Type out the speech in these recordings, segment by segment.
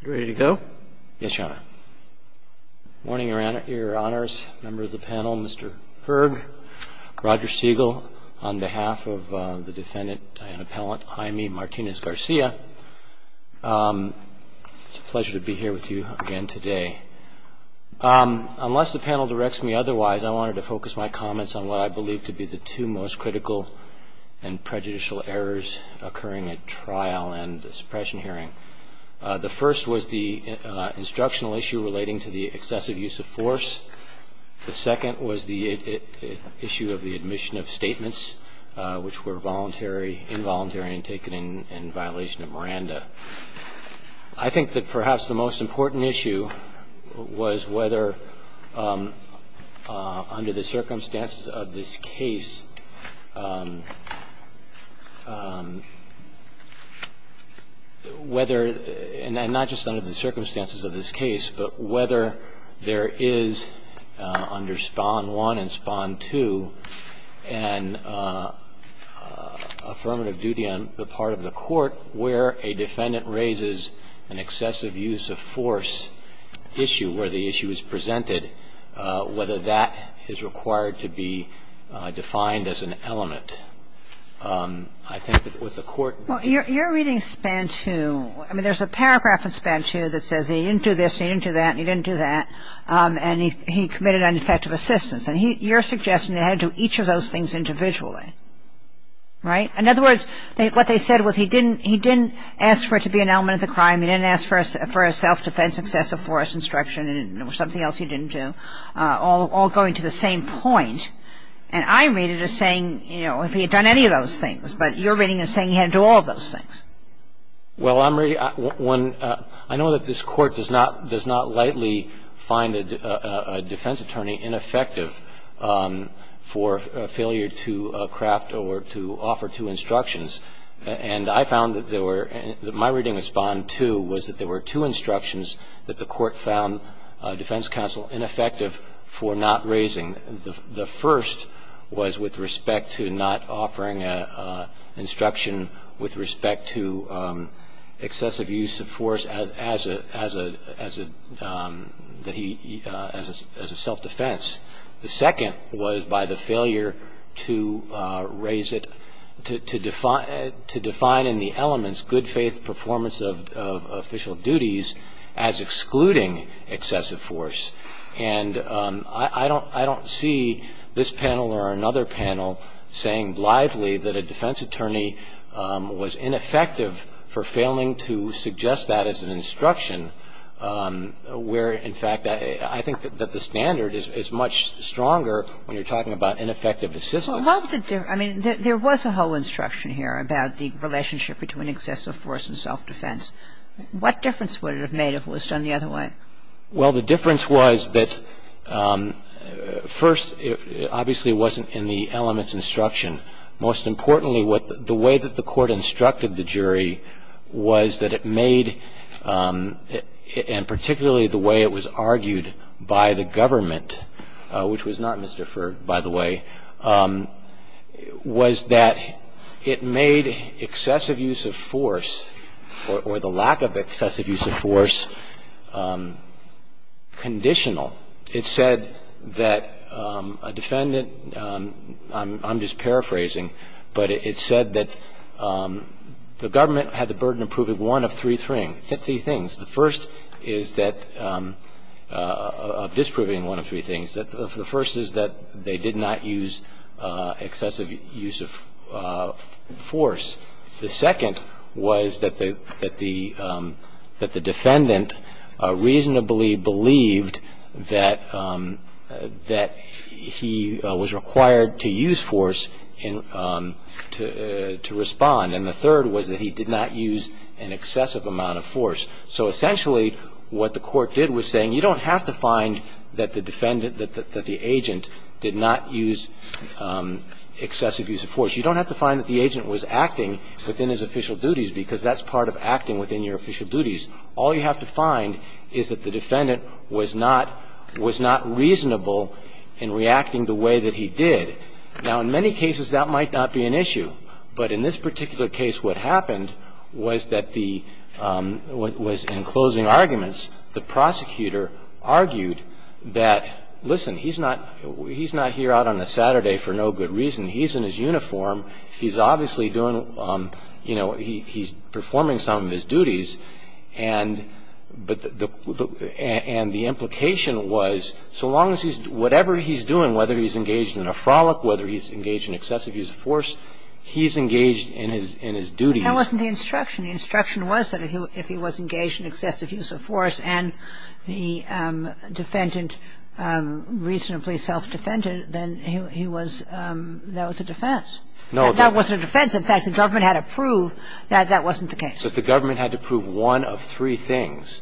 It's a pleasure to be here with you again today. Unless the panel directs me otherwise, I wanted to focus my comments on what I believe to be the two most critical and prejudicial errors occurring at trial and suppression hearing, and that is the fact that the defendant, Diana Pellant Jaime Martinez-Garcia, is not guilty of any of the crimes that have been committed against her. The first was the instructional issue relating to the excessive use of force. The second was the issue of the admission of statements, which were voluntary, involuntary, and taken in violation of Miranda. I think that perhaps the most important issue was whether, under the circumstances of this case, whether – and not just under the circumstances of this case, but whether there is, under Spahn 1 and Spahn 2, an affirmative duty on the part of the Court where a defendant raises an excessive use of force issue, where the issue is presented, whether that is required to be defined as an element. I think that what the Court… Kagan. Well, you're reading Spahn 2. I mean, there's a paragraph in Spahn 2 that says he didn't do this, he didn't do that, and he didn't do that, and he committed ineffective assistance. And you're suggesting that he had to do each of those things individually, right? In other words, what they said was he didn't – he didn't ask for it to be an element of the crime, he didn't ask for a self-defense excessive force instruction, and there was something else he didn't do, all going to the same point. And I read it as saying, you know, if he had done any of those things. But you're reading it as saying he had to do all of those things. Well, I'm – I know that this Court does not – does not lightly find a defense attorney ineffective for failure to craft or to offer two instructions. And I found that there were – my reading of Spahn 2 was that there were two instructions that the Court found defense counsel ineffective for not raising. The first was with respect to not offering an instruction with respect to excessive use of force as a – as a – as a self-defense. The second was by the failure to raise it – to define in the elements good faith performance of official duties as excluding excessive force. And I don't – I don't see this panel or another panel saying lively that a defense attorney was ineffective for failing to suggest that where, in fact, I think that the standard is much stronger when you're talking about ineffective assistance. Well, I mean, there was a whole instruction here about the relationship between excessive force and self-defense. What difference would it have made if it was done the other way? Well, the difference was that first, it obviously wasn't in the elements instruction. Most importantly, what – the way that the Court instructed the jury was that it made – and particularly the way it was argued by the government, which was not misdeferred, by the way, was that it made excessive use of force or the lack of excessive use of force conditional. It said that a defendant – I'm just paraphrasing, but it said that the government had the burden of proving one of three things. The first is that – of disproving one of three things. The first is that they did not use excessive use of force. The second was that the defendant reasonably believed that he was required to use force to respond. And the third was that he did not use an excessive amount of force. So essentially what the Court did was saying you don't have to find that the defendant – that the agent did not use excessive use of force. You don't have to find that the agent was acting within his official duties because that's part of acting within your official duties. All you have to find is that the defendant was not – was not reasonable in reacting the way that he did. Now, in many cases, that might not be an issue. But in this particular case, what happened was that the – was in closing arguments, the prosecutor argued that, listen, he's not – he's not here out on a Saturday for no good reason. He's in his uniform. He's obviously doing – you know, he's performing some of his duties. And – but the – and the implication was so long as he's – whatever he's doing, whether he's engaged in a frolic, whether he's engaged in excessive use of force, he's engaged in his duties. And that wasn't the instruction. The instruction was that if he was engaged in excessive use of force and the defendant reasonably self-defended, then he was – that was a defense. No. That wasn't a defense. In fact, the government had to prove that that wasn't the case. But the government had to prove one of three things.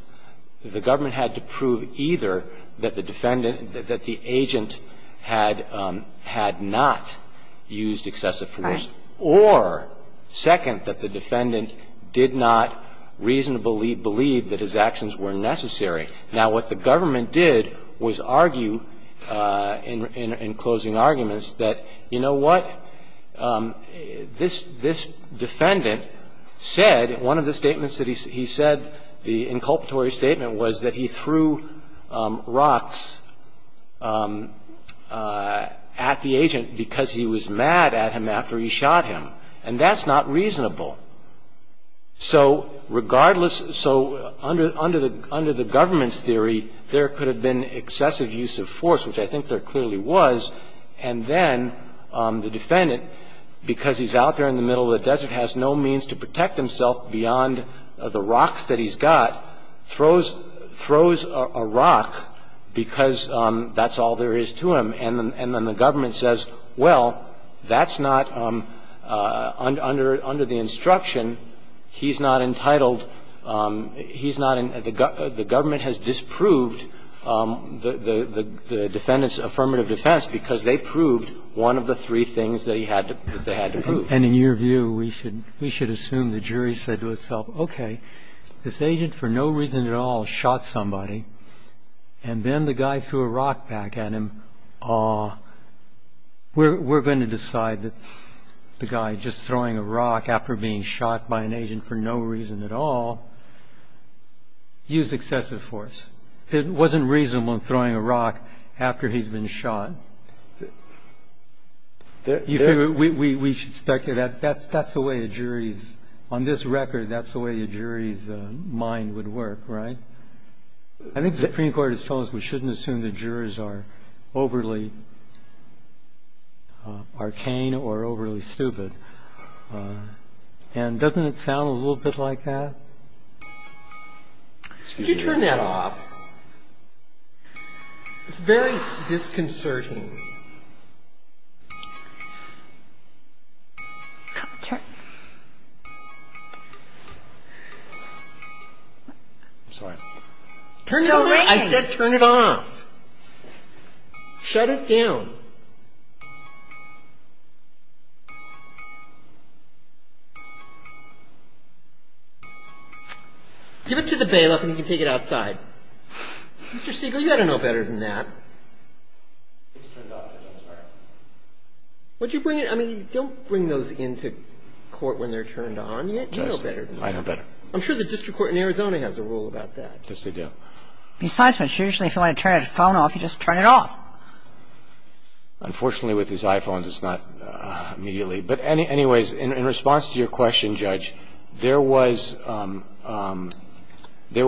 The government had to prove either that the defendant – that the agent had – had not used excessive force. Right. Or, second, that the defendant did not reasonably believe that his actions were necessary. Now, what the government did was argue in closing arguments that, you know what, this defendant said – one of the statements that he said, the inculpatory statement, was that he threw rocks at the agent because he was mad at him after he shot him. And that's not reasonable. So regardless – so under the government's theory, there could have been excessive use of force, which I think there clearly was. And then the defendant, because he's out there in the middle of the desert, has no means to protect himself beyond the rocks that he's got, throws a rock because that's all there is to him. And then the government says, well, that's not – under the instruction, he's not entitled – he's not – the government has disproved the defendant's affirmative defense because they proved one of the three things that he had to – that they had to prove. And in your view, we should assume the jury said to itself, okay, this agent for no reason at all shot somebody. And then the guy threw a rock back at him. We're going to decide that the guy just throwing a rock after being shot by an agent for no reason at all used excessive force. It wasn't reasonable in throwing a rock after he's been shot. We should speculate. That's the way a jury's – on this record, that's the way a jury's mind would work, right? I think the Supreme Court has told us we shouldn't assume the jurors are overly arcane or overly stupid. And doesn't it sound a little bit like that? Could you turn that off? It's very disconcerting. I'm sorry. Turn it off. It's still ringing. I said turn it off. Shut it down. Give it to the bailiff and he can take it outside. Mr. Siegel, you ought to know better than that. It's turned off. I'm sorry. Would you bring it – I mean, don't bring those into court when they're turned on yet. You know better than that. I know better. I'm sure the district court in Arizona has a rule about that. Yes, they do. Besides, usually if you want to turn a phone off, you just turn it off. Unfortunately, with his iPhone, it's not immediately. But anyways, in response to your question, Judge, there was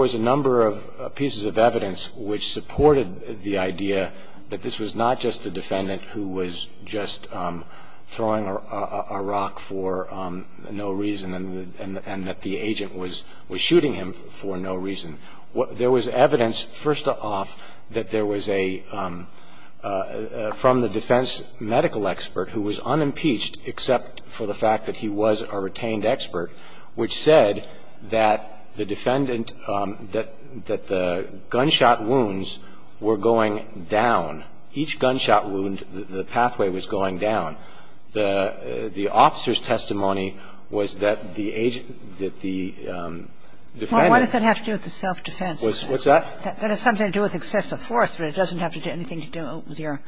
a number of pieces of evidence which supported the idea that this was not just a defendant who was just throwing a rock for no reason and that the agent was shooting him for no reason. There was evidence, first off, that there was a – from the defense medical expert who was unimpeached except for the fact that he was a retained expert, which said that the defendant – that the gunshot wounds were going down. Each gunshot wound, the pathway was going down. The officer's testimony was that the agent – that the defendant – Well, what does that have to do with the self-defense? What's that? That has something to do with excessive force, but it doesn't have to do anything to do with your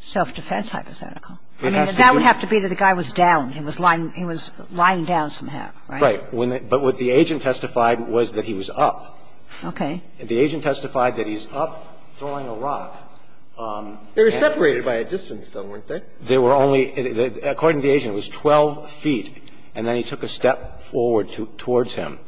self-defense hypothetical. I mean, that would have to be that the guy was down. He was lying – he was lying down somehow, right? Right. But what the agent testified was that he was up. Okay. The agent testified that he's up throwing a rock. They were separated by a distance, though, weren't they? They were only – according to the agent, it was 12 feet. And then he took a step forward towards him.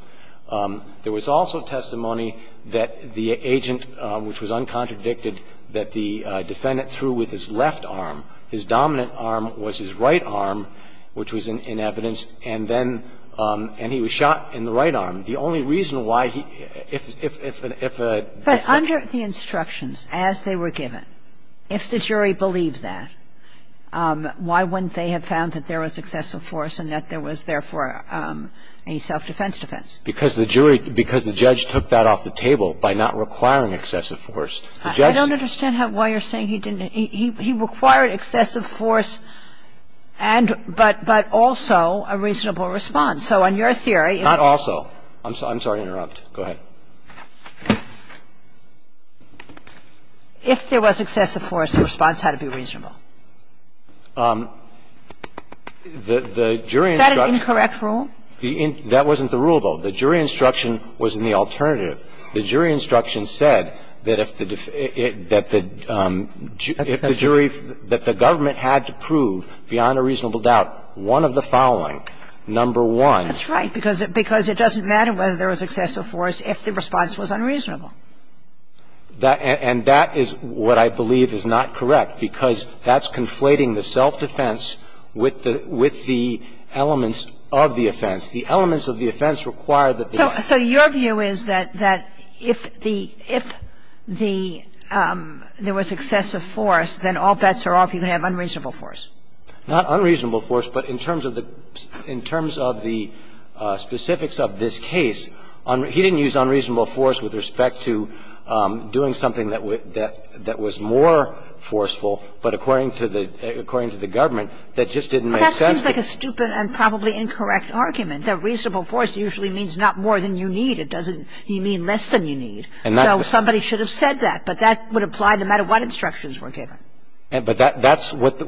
There was also testimony that the agent, which was uncontradicted, that the defendant threw with his left arm. His dominant arm was his right arm, which was in evidence, and then – and he was shot in the right arm. The only reason why he – if a – if a – But under the instructions as they were given, if the jury believed that, why wouldn't they have found that there was excessive force and that there was, therefore, a self-defense defense? Because the jury – because the judge took that off the table by not requiring excessive force. The judge – I don't understand how – why you're saying he didn't – he required excessive force and – but also a reasonable response. So on your theory – Not also. I'm sorry to interrupt. Go ahead. If there was excessive force, the response had to be reasonable. The jury instruction – Is that an incorrect rule? That wasn't the rule, though. The jury instruction was in the alternative. The jury instruction said that if the – that the jury – that the government had to prove beyond a reasonable doubt one of the following. Number one – That's right, because it doesn't matter whether there was excessive force if the response was unreasonable. And that is what I believe is not correct, because that's conflating the self-defense with the – with the elements of the offense. The elements of the offense require that the – So your view is that if the – if the – there was excessive force, then all bets are off. You can have unreasonable force. Not unreasonable force, but in terms of the – in terms of the specifics of this case, he didn't use unreasonable force with respect to doing something that was more forceful, but according to the government, that just didn't make sense. But that seems like a stupid and probably incorrect argument, that reasonable force usually means not more than you need. It doesn't mean less than you need. And that's the – So somebody should have said that. But that would apply no matter what instructions were given. But that's what the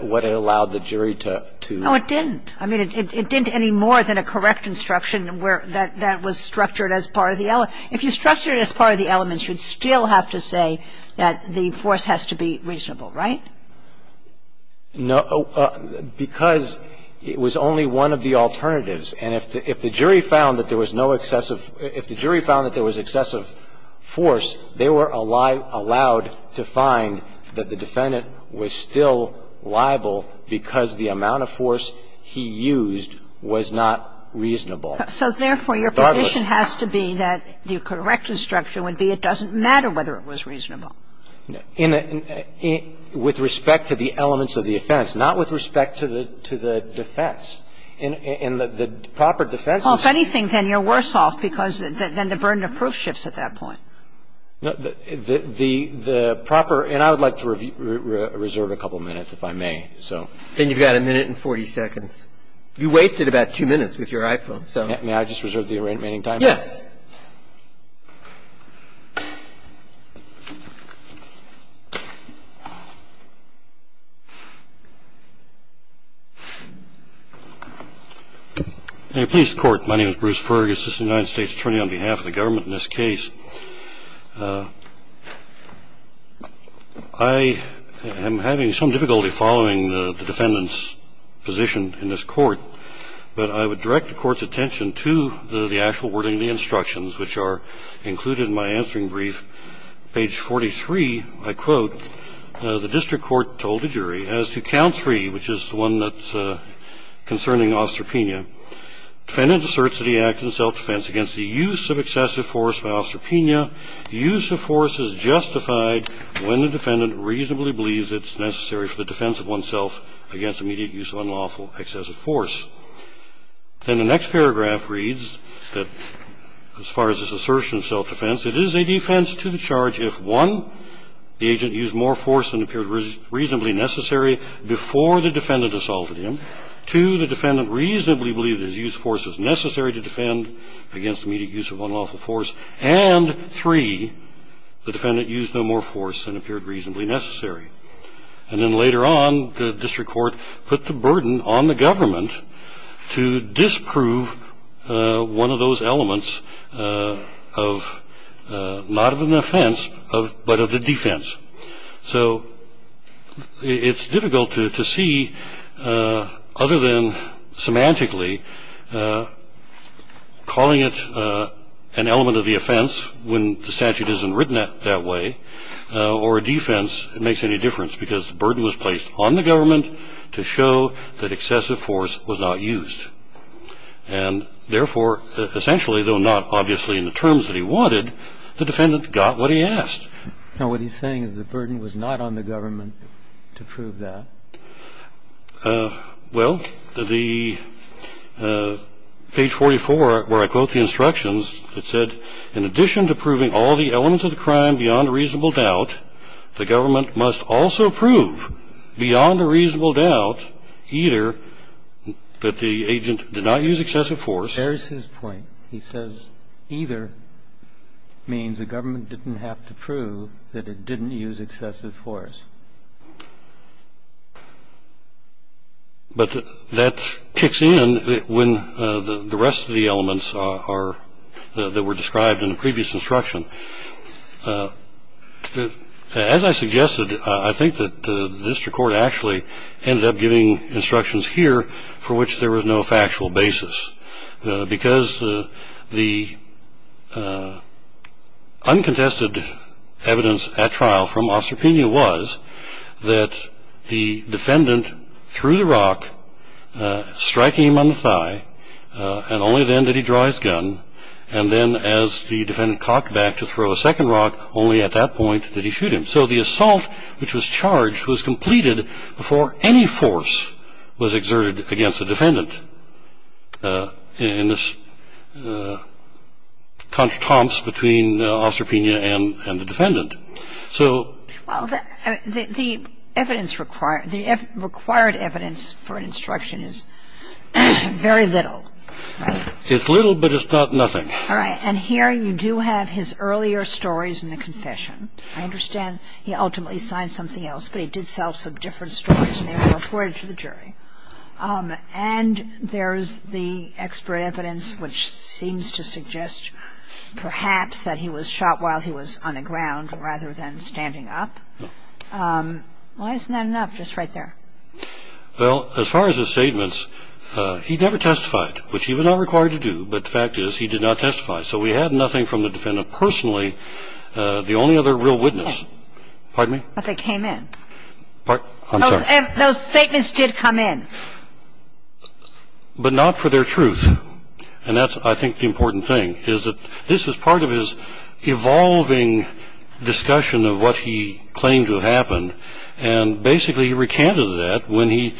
– what it allowed the jury to – No, it didn't. I mean, it didn't any more than a correct instruction where – that was structured as part of the – if you structure it as part of the elements, you'd still have to say that the force has to be reasonable, right? No. Because it was only one of the alternatives. And if the jury found that there was no excessive – if the jury found that there was excessive force, they were allowed to find that the defendant was still liable because the amount of force he used was not reasonable. So therefore, your position has to be that the correct instruction would be it doesn't matter whether it was reasonable. No. With respect to the elements of the offense, not with respect to the defense. And the proper defense is – Well, if anything, then you're worse off because then the burden of proof shifts at that point. The proper – and I would like to reserve a couple minutes if I may, so. Then you've got a minute and 40 seconds. You wasted about two minutes with your iPhone, so. May I just reserve the remaining time? Yes. In a peace court, my name is Bruce Fergus. I'm an assistant United States attorney on behalf of the government in this case. I am having some difficulty following the defendant's position in this court. But I would direct the court's attention to the actual wording of the instructions, which are included in my answering brief. Page 43, I quote, the district court told the jury as to count three, which is the one that's concerning ostropenia. Defendant asserts that he acted in self-defense against the use of excessive force by ostropenia. Use of force is justified when the defendant reasonably believes it's necessary for the defense of oneself against immediate use of unlawful excessive force. Then the next paragraph reads that as far as this assertion of self-defense, it is a defense to the charge if, one, the agent used more force than appeared reasonably necessary before the defendant assaulted him. Two, the defendant reasonably believed his use of force was necessary to defend against immediate use of unlawful force. And three, the defendant used no more force than appeared reasonably necessary. And then later on, the district court put the burden on the government to disprove one of those elements of not of an offense, but of the defense. So it's difficult to see, other than semantically, calling it an element of the offense when the statute isn't written that way, or a defense that makes any difference. Because the burden was placed on the government to show that excessive force was not used. And therefore, essentially, though not obviously in the terms that he wanted, the defendant got what he asked. Now, what he's saying is the burden was not on the government to prove that. Well, the page 44, where I quote the instructions, it said, in addition to proving all the elements of the crime beyond a reasonable doubt, the government must also prove beyond a reasonable doubt either that the agent did not use excessive force. There's his point. He says either means the government didn't have to prove that it didn't use excessive force. But that kicks in when the rest of the elements are, that were described in the previous instruction. As I suggested, I think that the district court actually ended up giving instructions here for which there was no factual basis. Because the uncontested evidence at trial from Osterpinia was that the defendant threw the rock, striking him on the thigh. And only then did he draw his gun. And then as the defendant cocked back to throw a second rock, only at that point did he shoot him. So the assault, which was charged, was completed before any force was exerted against the defendant. And this taunts between Osterpinia and the defendant. So. Well, the evidence required, the required evidence for an instruction is very little. It's little, but it's not nothing. All right. And here you do have his earlier stories in the confession. I understand he ultimately signed something else, but he did sell some different stories when they were reported to the jury. And there is the expert evidence, which seems to suggest perhaps that he was shot while he was on the ground, rather than standing up. Why isn't that enough? Just right there. Well, as far as his statements, he never testified, which he was not required to do. But the fact is, he did not testify. So we had nothing from the defendant personally. The only other real witness. Pardon me? But they came in. I'm sorry. Those statements did come in. But not for their truth. And that's, I think, the important thing, is that this was part of his evolving discussion of what he claimed to have happened. And basically, he recanted that when he,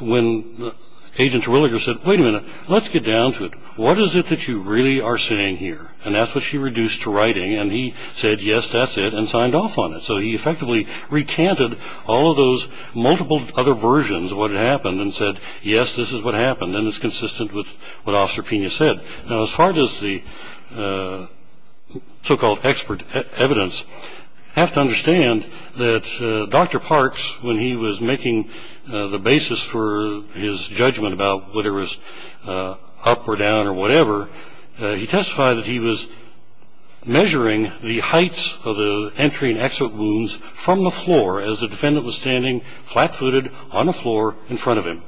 when Agent Terwilliger said, wait a minute, let's get down to it. What is it that you really are saying here? And that's what she reduced to writing. And he said, yes, that's it, and signed off on it. So he effectively recanted all of those multiple other versions of what had happened and said, yes, this is what happened. And it's consistent with what Officer Pena said. Now, as far as the so-called expert evidence, you have to understand that Dr. Parks, when he was making the basis for his judgment about whether it was up or down or whatever, he testified that he was measuring the heights of the entry and exit wounds from the floor as the defendant was standing flat-footed on the floor in front of him.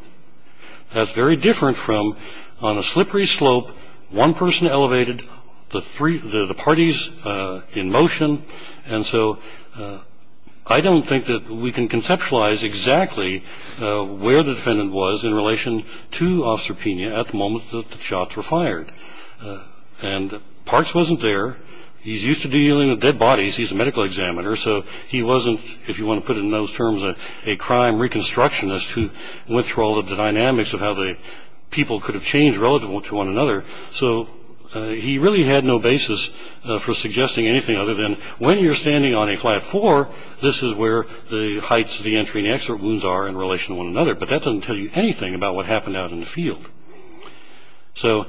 That's very different from on a slippery slope, one person elevated, the parties in motion. And so I don't think that we can conceptualize exactly where the defendant was in relation to Officer Pena at the moment that the shots were fired. And Parks wasn't there. He's used to dealing with dead bodies. He's a medical examiner. So he wasn't, if you want to put it in those terms, a crime reconstructionist who went through all the dynamics of how the people could have changed relative to one another. So he really had no basis for suggesting anything other than when you're standing on a flat floor, this is where the heights of the entry and exit wounds are in relation to one another. But that doesn't tell you anything about what happened out in the field. So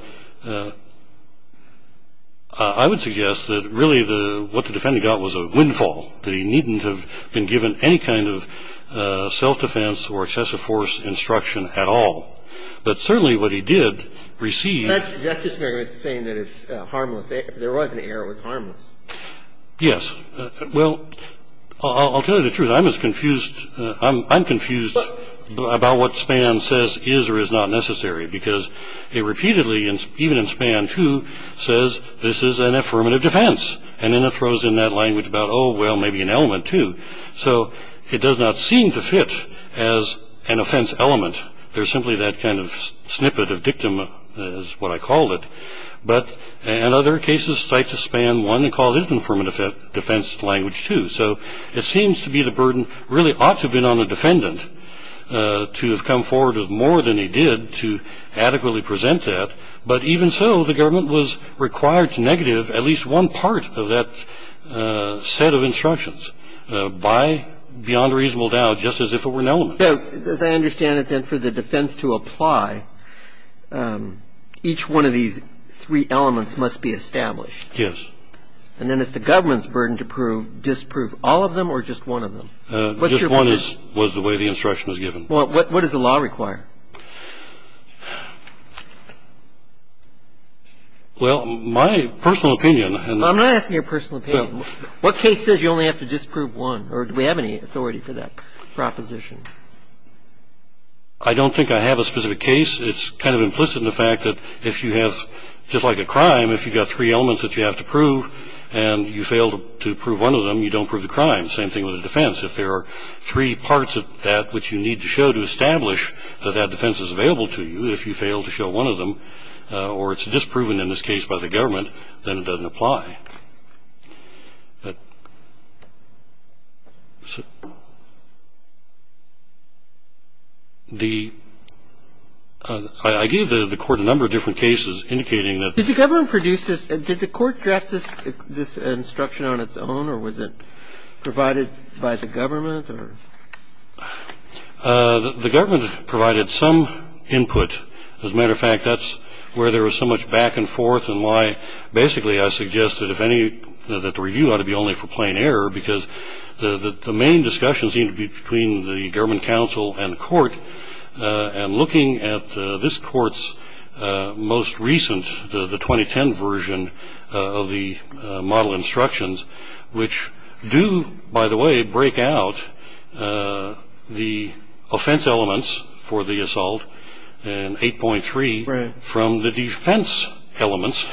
I would suggest that really what the defendant got was a windfall, that he needn't have been given any kind of self-defense or excessive force instruction at all. But certainly what he did receive ---- That's just saying that it's harmless. If there was an error, it was harmless. Yes. Well, I'll tell you the truth. I'm confused about what SPAN says is or is not necessary because it repeatedly, even in SPAN 2, says this is an affirmative defense. And then it throws in that language about, oh, well, maybe an element, too. So it does not seem to fit as an offense element. There's simply that kind of snippet of dictum is what I call it. But in other cases, cite SPAN 1 and call it an affirmative defense language, too. So it seems to be the burden really ought to have been on the defendant to have come forward with more than he did to adequately present that. But even so, the government was required to negative at least one part of that set of instructions beyond reasonable doubt, just as if it were an element. So as I understand it, then, for the defense to apply, each one of these three elements must be established. Yes. And then it's the government's burden to prove, disprove all of them or just one of them? Just one was the way the instruction was given. Well, what does the law require? Well, my personal opinion. I'm not asking your personal opinion. What case says you only have to disprove one? Or do we have any authority for that proposition? I don't think I have a specific case. The question is, if you have three elements that you have to prove and you fail to prove one of them, you don't prove the crime. Same thing with the defense. If there are three parts of that which you need to show to establish that that defense is available to you, if you fail to show one of them, or it's disproven in this case by the government, then it doesn't apply. Did the government produce this? Did the court draft this instruction on its own? Or was it provided by the government? The government provided some input. As a matter of fact, that's where there was so much back and forth and why, basically, one of them, then it doesn't apply. The review ought to be only for plain error because the main discussion seemed to be between the government counsel and the court. And looking at this court's most recent, the 2010 version of the model instructions, which do, by the way, break out the offense elements for the assault in 8.3 from the defense elements,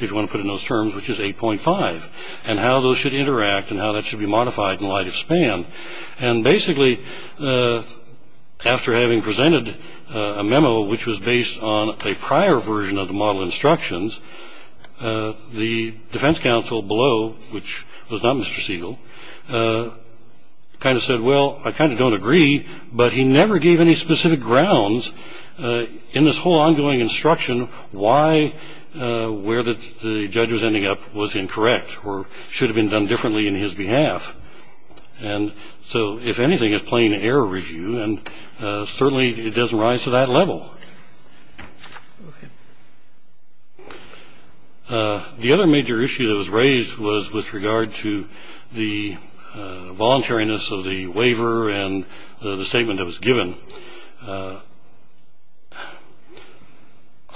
if you want to put it in those terms, which is 8.5, and how those should interact and how that should be modified in light of span. And basically, after having presented a memo which was based on a prior version of the model instructions, the defense counsel below, which was not Mr. Siegel, kind of said, well, I kind of don't agree, but he never gave any specific grounds in this whole ongoing instruction why where the judge was ending up was incorrect or should have been done differently in his behalf. And so, if anything, it's plain error review, and certainly it doesn't rise to that level. The other major issue that was raised was with regard to the voluntariness of the waiver and the statement that was given.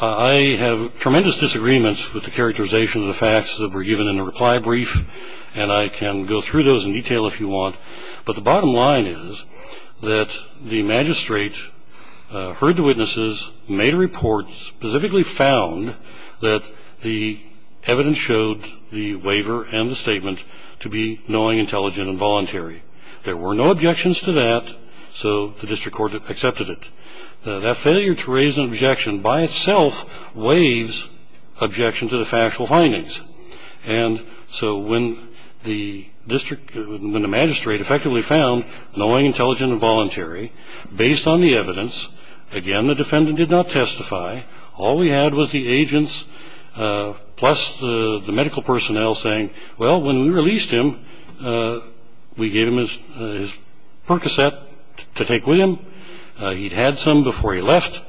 I have tremendous disagreements with the characterization of the facts that were given in the reply brief, and I can go through those in detail if you want. But the bottom line is that the magistrate heard the witnesses, made a report, specifically found that the evidence showed the waiver and the statement to be knowing, intelligent, and voluntary. There were no objections to that, so the district court accepted it. That failure to raise an objection by itself waives objection to the factual findings. And so when the magistrate effectively found knowing, intelligent, and voluntary, based on the evidence, again, the defendant did not testify. All we had was the agents plus the medical personnel saying, well, when we released him, we gave him his Percocet to take with him. And he was released. He had some before he left,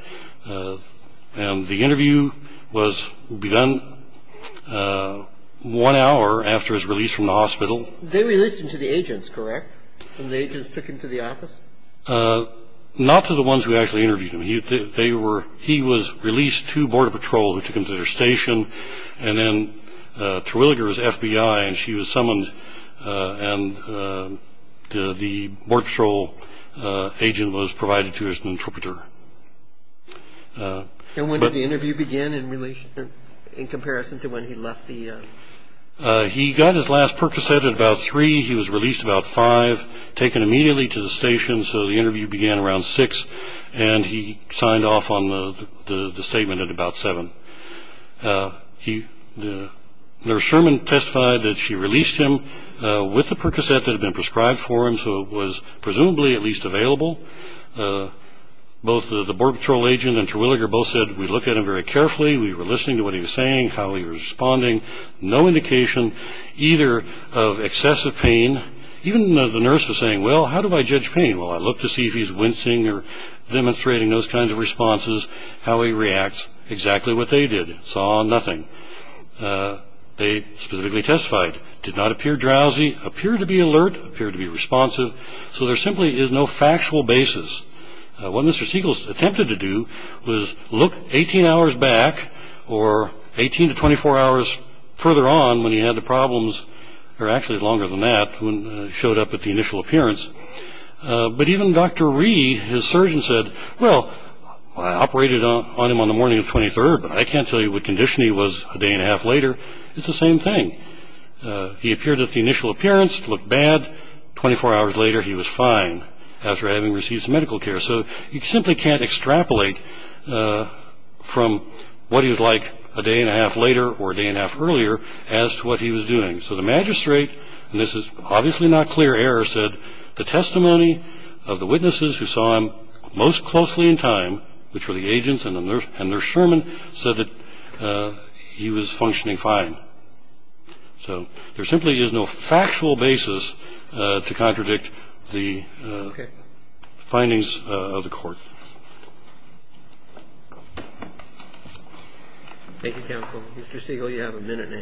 and the interview was begun one hour after his release from the hospital. They released him to the agents, correct, when the agents took him to the office? Not to the ones who actually interviewed him. He was released to Border Patrol, who took him to their station, and then to Williger's FBI, and she was summoned, and the Border Patrol agent was provided to her as an interpreter. And when did the interview begin in comparison to when he left the? He got his last Percocet at about 3. He was released about 5, taken immediately to the station, so the interview began around 6, and he signed off on the statement at about 7. Nurse Sherman testified that she released him with the Percocet that had been prescribed for him, so it was presumably at least available. Both the Border Patrol agent and Terwilliger both said, we looked at him very carefully. We were listening to what he was saying, how he was responding, no indication either of excessive pain. Even the nurse was saying, well, how do I judge pain? Well, I looked to see if he was wincing or demonstrating those kinds of responses, how he reacts, exactly what they did, saw nothing. They specifically testified, did not appear drowsy, appeared to be alert, appeared to be responsive, so there simply is no factual basis. What Mr. Siegel attempted to do was look 18 hours back or 18 to 24 hours further on when he had the problems, or actually longer than that, when he showed up at the initial appearance. But even Dr. Rhee, his surgeon, said, well, I operated on him on the morning of 23rd, but I can't tell you what condition he was a day and a half later. It's the same thing. He appeared at the initial appearance, looked bad. 24 hours later, he was fine after having received some medical care, so you simply can't extrapolate from what he was like a day and a half later or a day and a half earlier as to what he was doing. So the magistrate, and this is obviously not clear error, said the testimony of the witnesses who saw him most closely in time, which were the agents and the nurse and nurse sherman, said that he was functioning fine. So there simply is no factual basis to contradict the findings of the Court. Thank you, counsel. Mr. Siegel, you have a minute and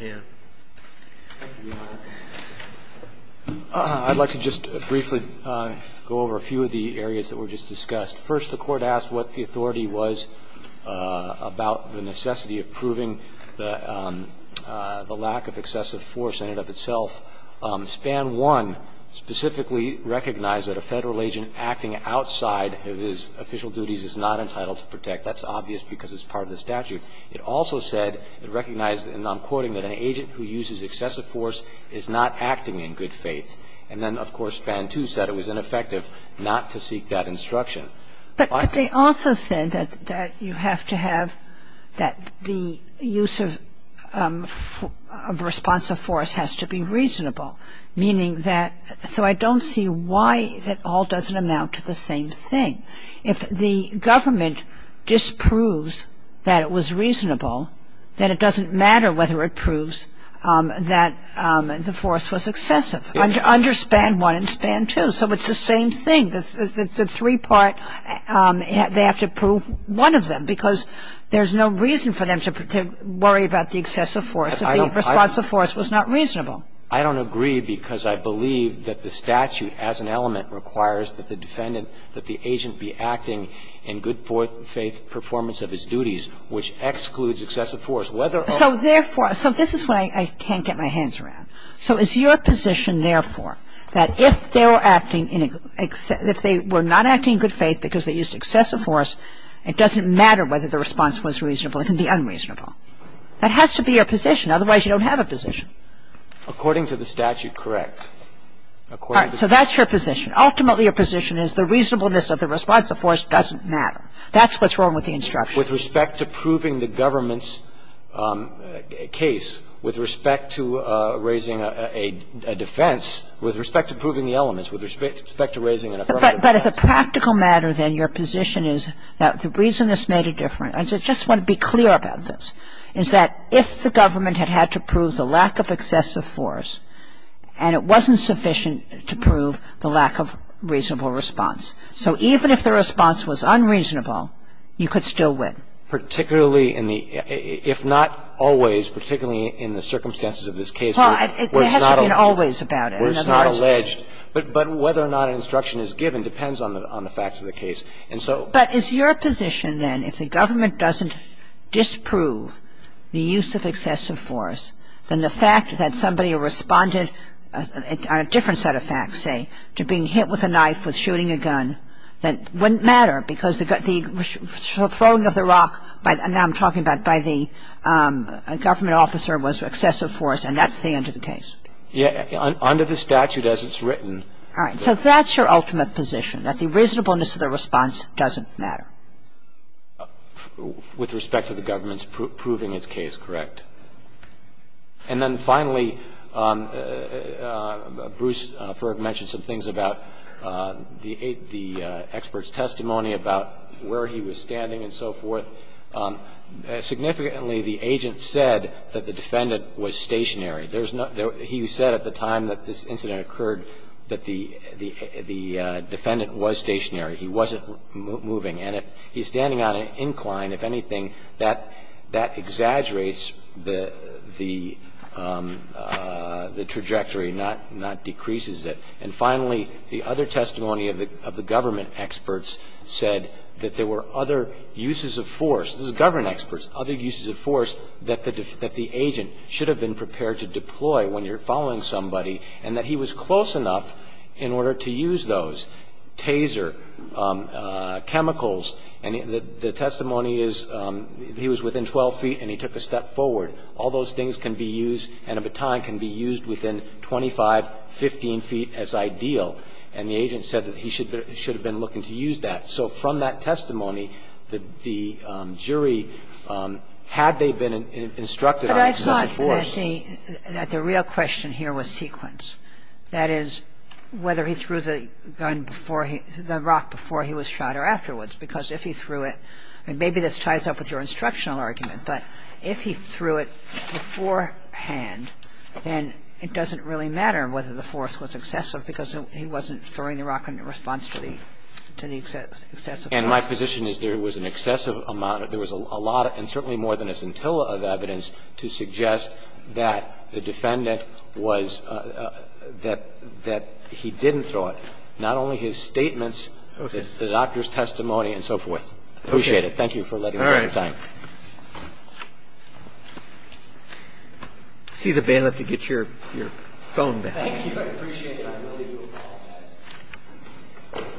a half. I'd like to just briefly go over a few of the areas that were just discussed. First, the Court asked what the authority was about the necessity of proving the lack of excessive force in and of itself. SPAN 1 specifically recognized that a Federal agent acting outside of his official duties is not entitled to protect. That's obvious because it's part of the statute. It also said and recognized, and I'm quoting, that an agent who uses excessive force is not acting in good faith. And then, of course, SPAN 2 said it was ineffective not to seek that instruction. But they also said that you have to have, that the use of responsive force has to be reasonable, meaning that, so I don't see why it all doesn't amount to the same thing. If the government disproves that it was reasonable, then it doesn't matter whether it proves that the force was excessive under SPAN 1 and SPAN 2. So it's the same thing. The three-part, they have to prove one of them because there's no reason for them to worry about the excessive force if the response of force was not reasonable. I don't agree because I believe that the statute as an element requires that the defendant, that the agent be acting in good faith performance of his duties, which excludes excessive force. So therefore, so this is why I can't get my hands around. So is your position, therefore, that if they were acting in, if they were not acting in good faith because they used excessive force, it doesn't matter whether the response was reasonable. It can be unreasonable. That has to be your position. Otherwise, you don't have a position. According to the statute, correct. According to the statute. All right. So that's your position. Ultimately, your position is the reasonableness of the responsive force doesn't That's what's wrong with the instruction. With respect to proving the government's case, with respect to raising a defense, with respect to proving the elements, with respect to raising an authority. But as a practical matter, then, your position is that the reason this made a difference and I just want to be clear about this, is that if the government had had to prove the lack of excessive force and it wasn't sufficient to prove the lack of reasonable response, so even if the response was unreasonable, you could still win. Particularly in the, if not always, particularly in the circumstances of this case. There has to be an always about it. Where it's not alleged. But whether or not an instruction is given depends on the facts of the case. But is your position, then, if the government doesn't disprove the use of excessive force, then the fact that somebody responded on a different set of facts, say, to being hit with a knife, with shooting a gun, that wouldn't matter because the throwing of the rock, now I'm talking about by the government officer was excessive force and that's the end of the case? Under the statute as it's written. All right. So that's your ultimate position, that the reasonableness of the response doesn't matter. With respect to the government's proving its case, correct. And then finally, Bruce Ferg mentioned some things about the expert's testimony about where he was standing and so forth. Significantly, the agent said that the defendant was stationary. There's no, he said at the time that this incident occurred that the defendant was stationary. He wasn't moving. And if he's standing on an incline, if anything, that exaggerates the trajectory, not decreases it. And finally, the other testimony of the government experts said that there were other uses of force. This is government experts. Other uses of force that the agent should have been prepared to deploy when you're following somebody and that he was close enough in order to use those. He said that he could use a baton, a taser, chemicals, and the testimony is he was within 12 feet and he took a step forward. All those things can be used, and a baton can be used within 25, 15 feet as ideal. And the agent said that he should have been looking to use that. So from that testimony, the jury, had they been instructed on the use of force. Kagan. And I think that the real question here was sequence. That is, whether he threw the gun before he the rock before he was shot or afterwards. Because if he threw it, and maybe this ties up with your instructional argument, but if he threw it beforehand, then it doesn't really matter whether the force was excessive because he wasn't throwing the rock in response to the excessive force. And my position is there was an excessive amount, there was a lot, and certainly more than a scintilla of evidence to suggest that the defendant was, that he didn't throw it, not only his statements, the doctor's testimony and so forth. Appreciate it. Thank you for letting me take the time. See the bailiff to get your phone back. Thank you. I appreciate it. I really do apologize.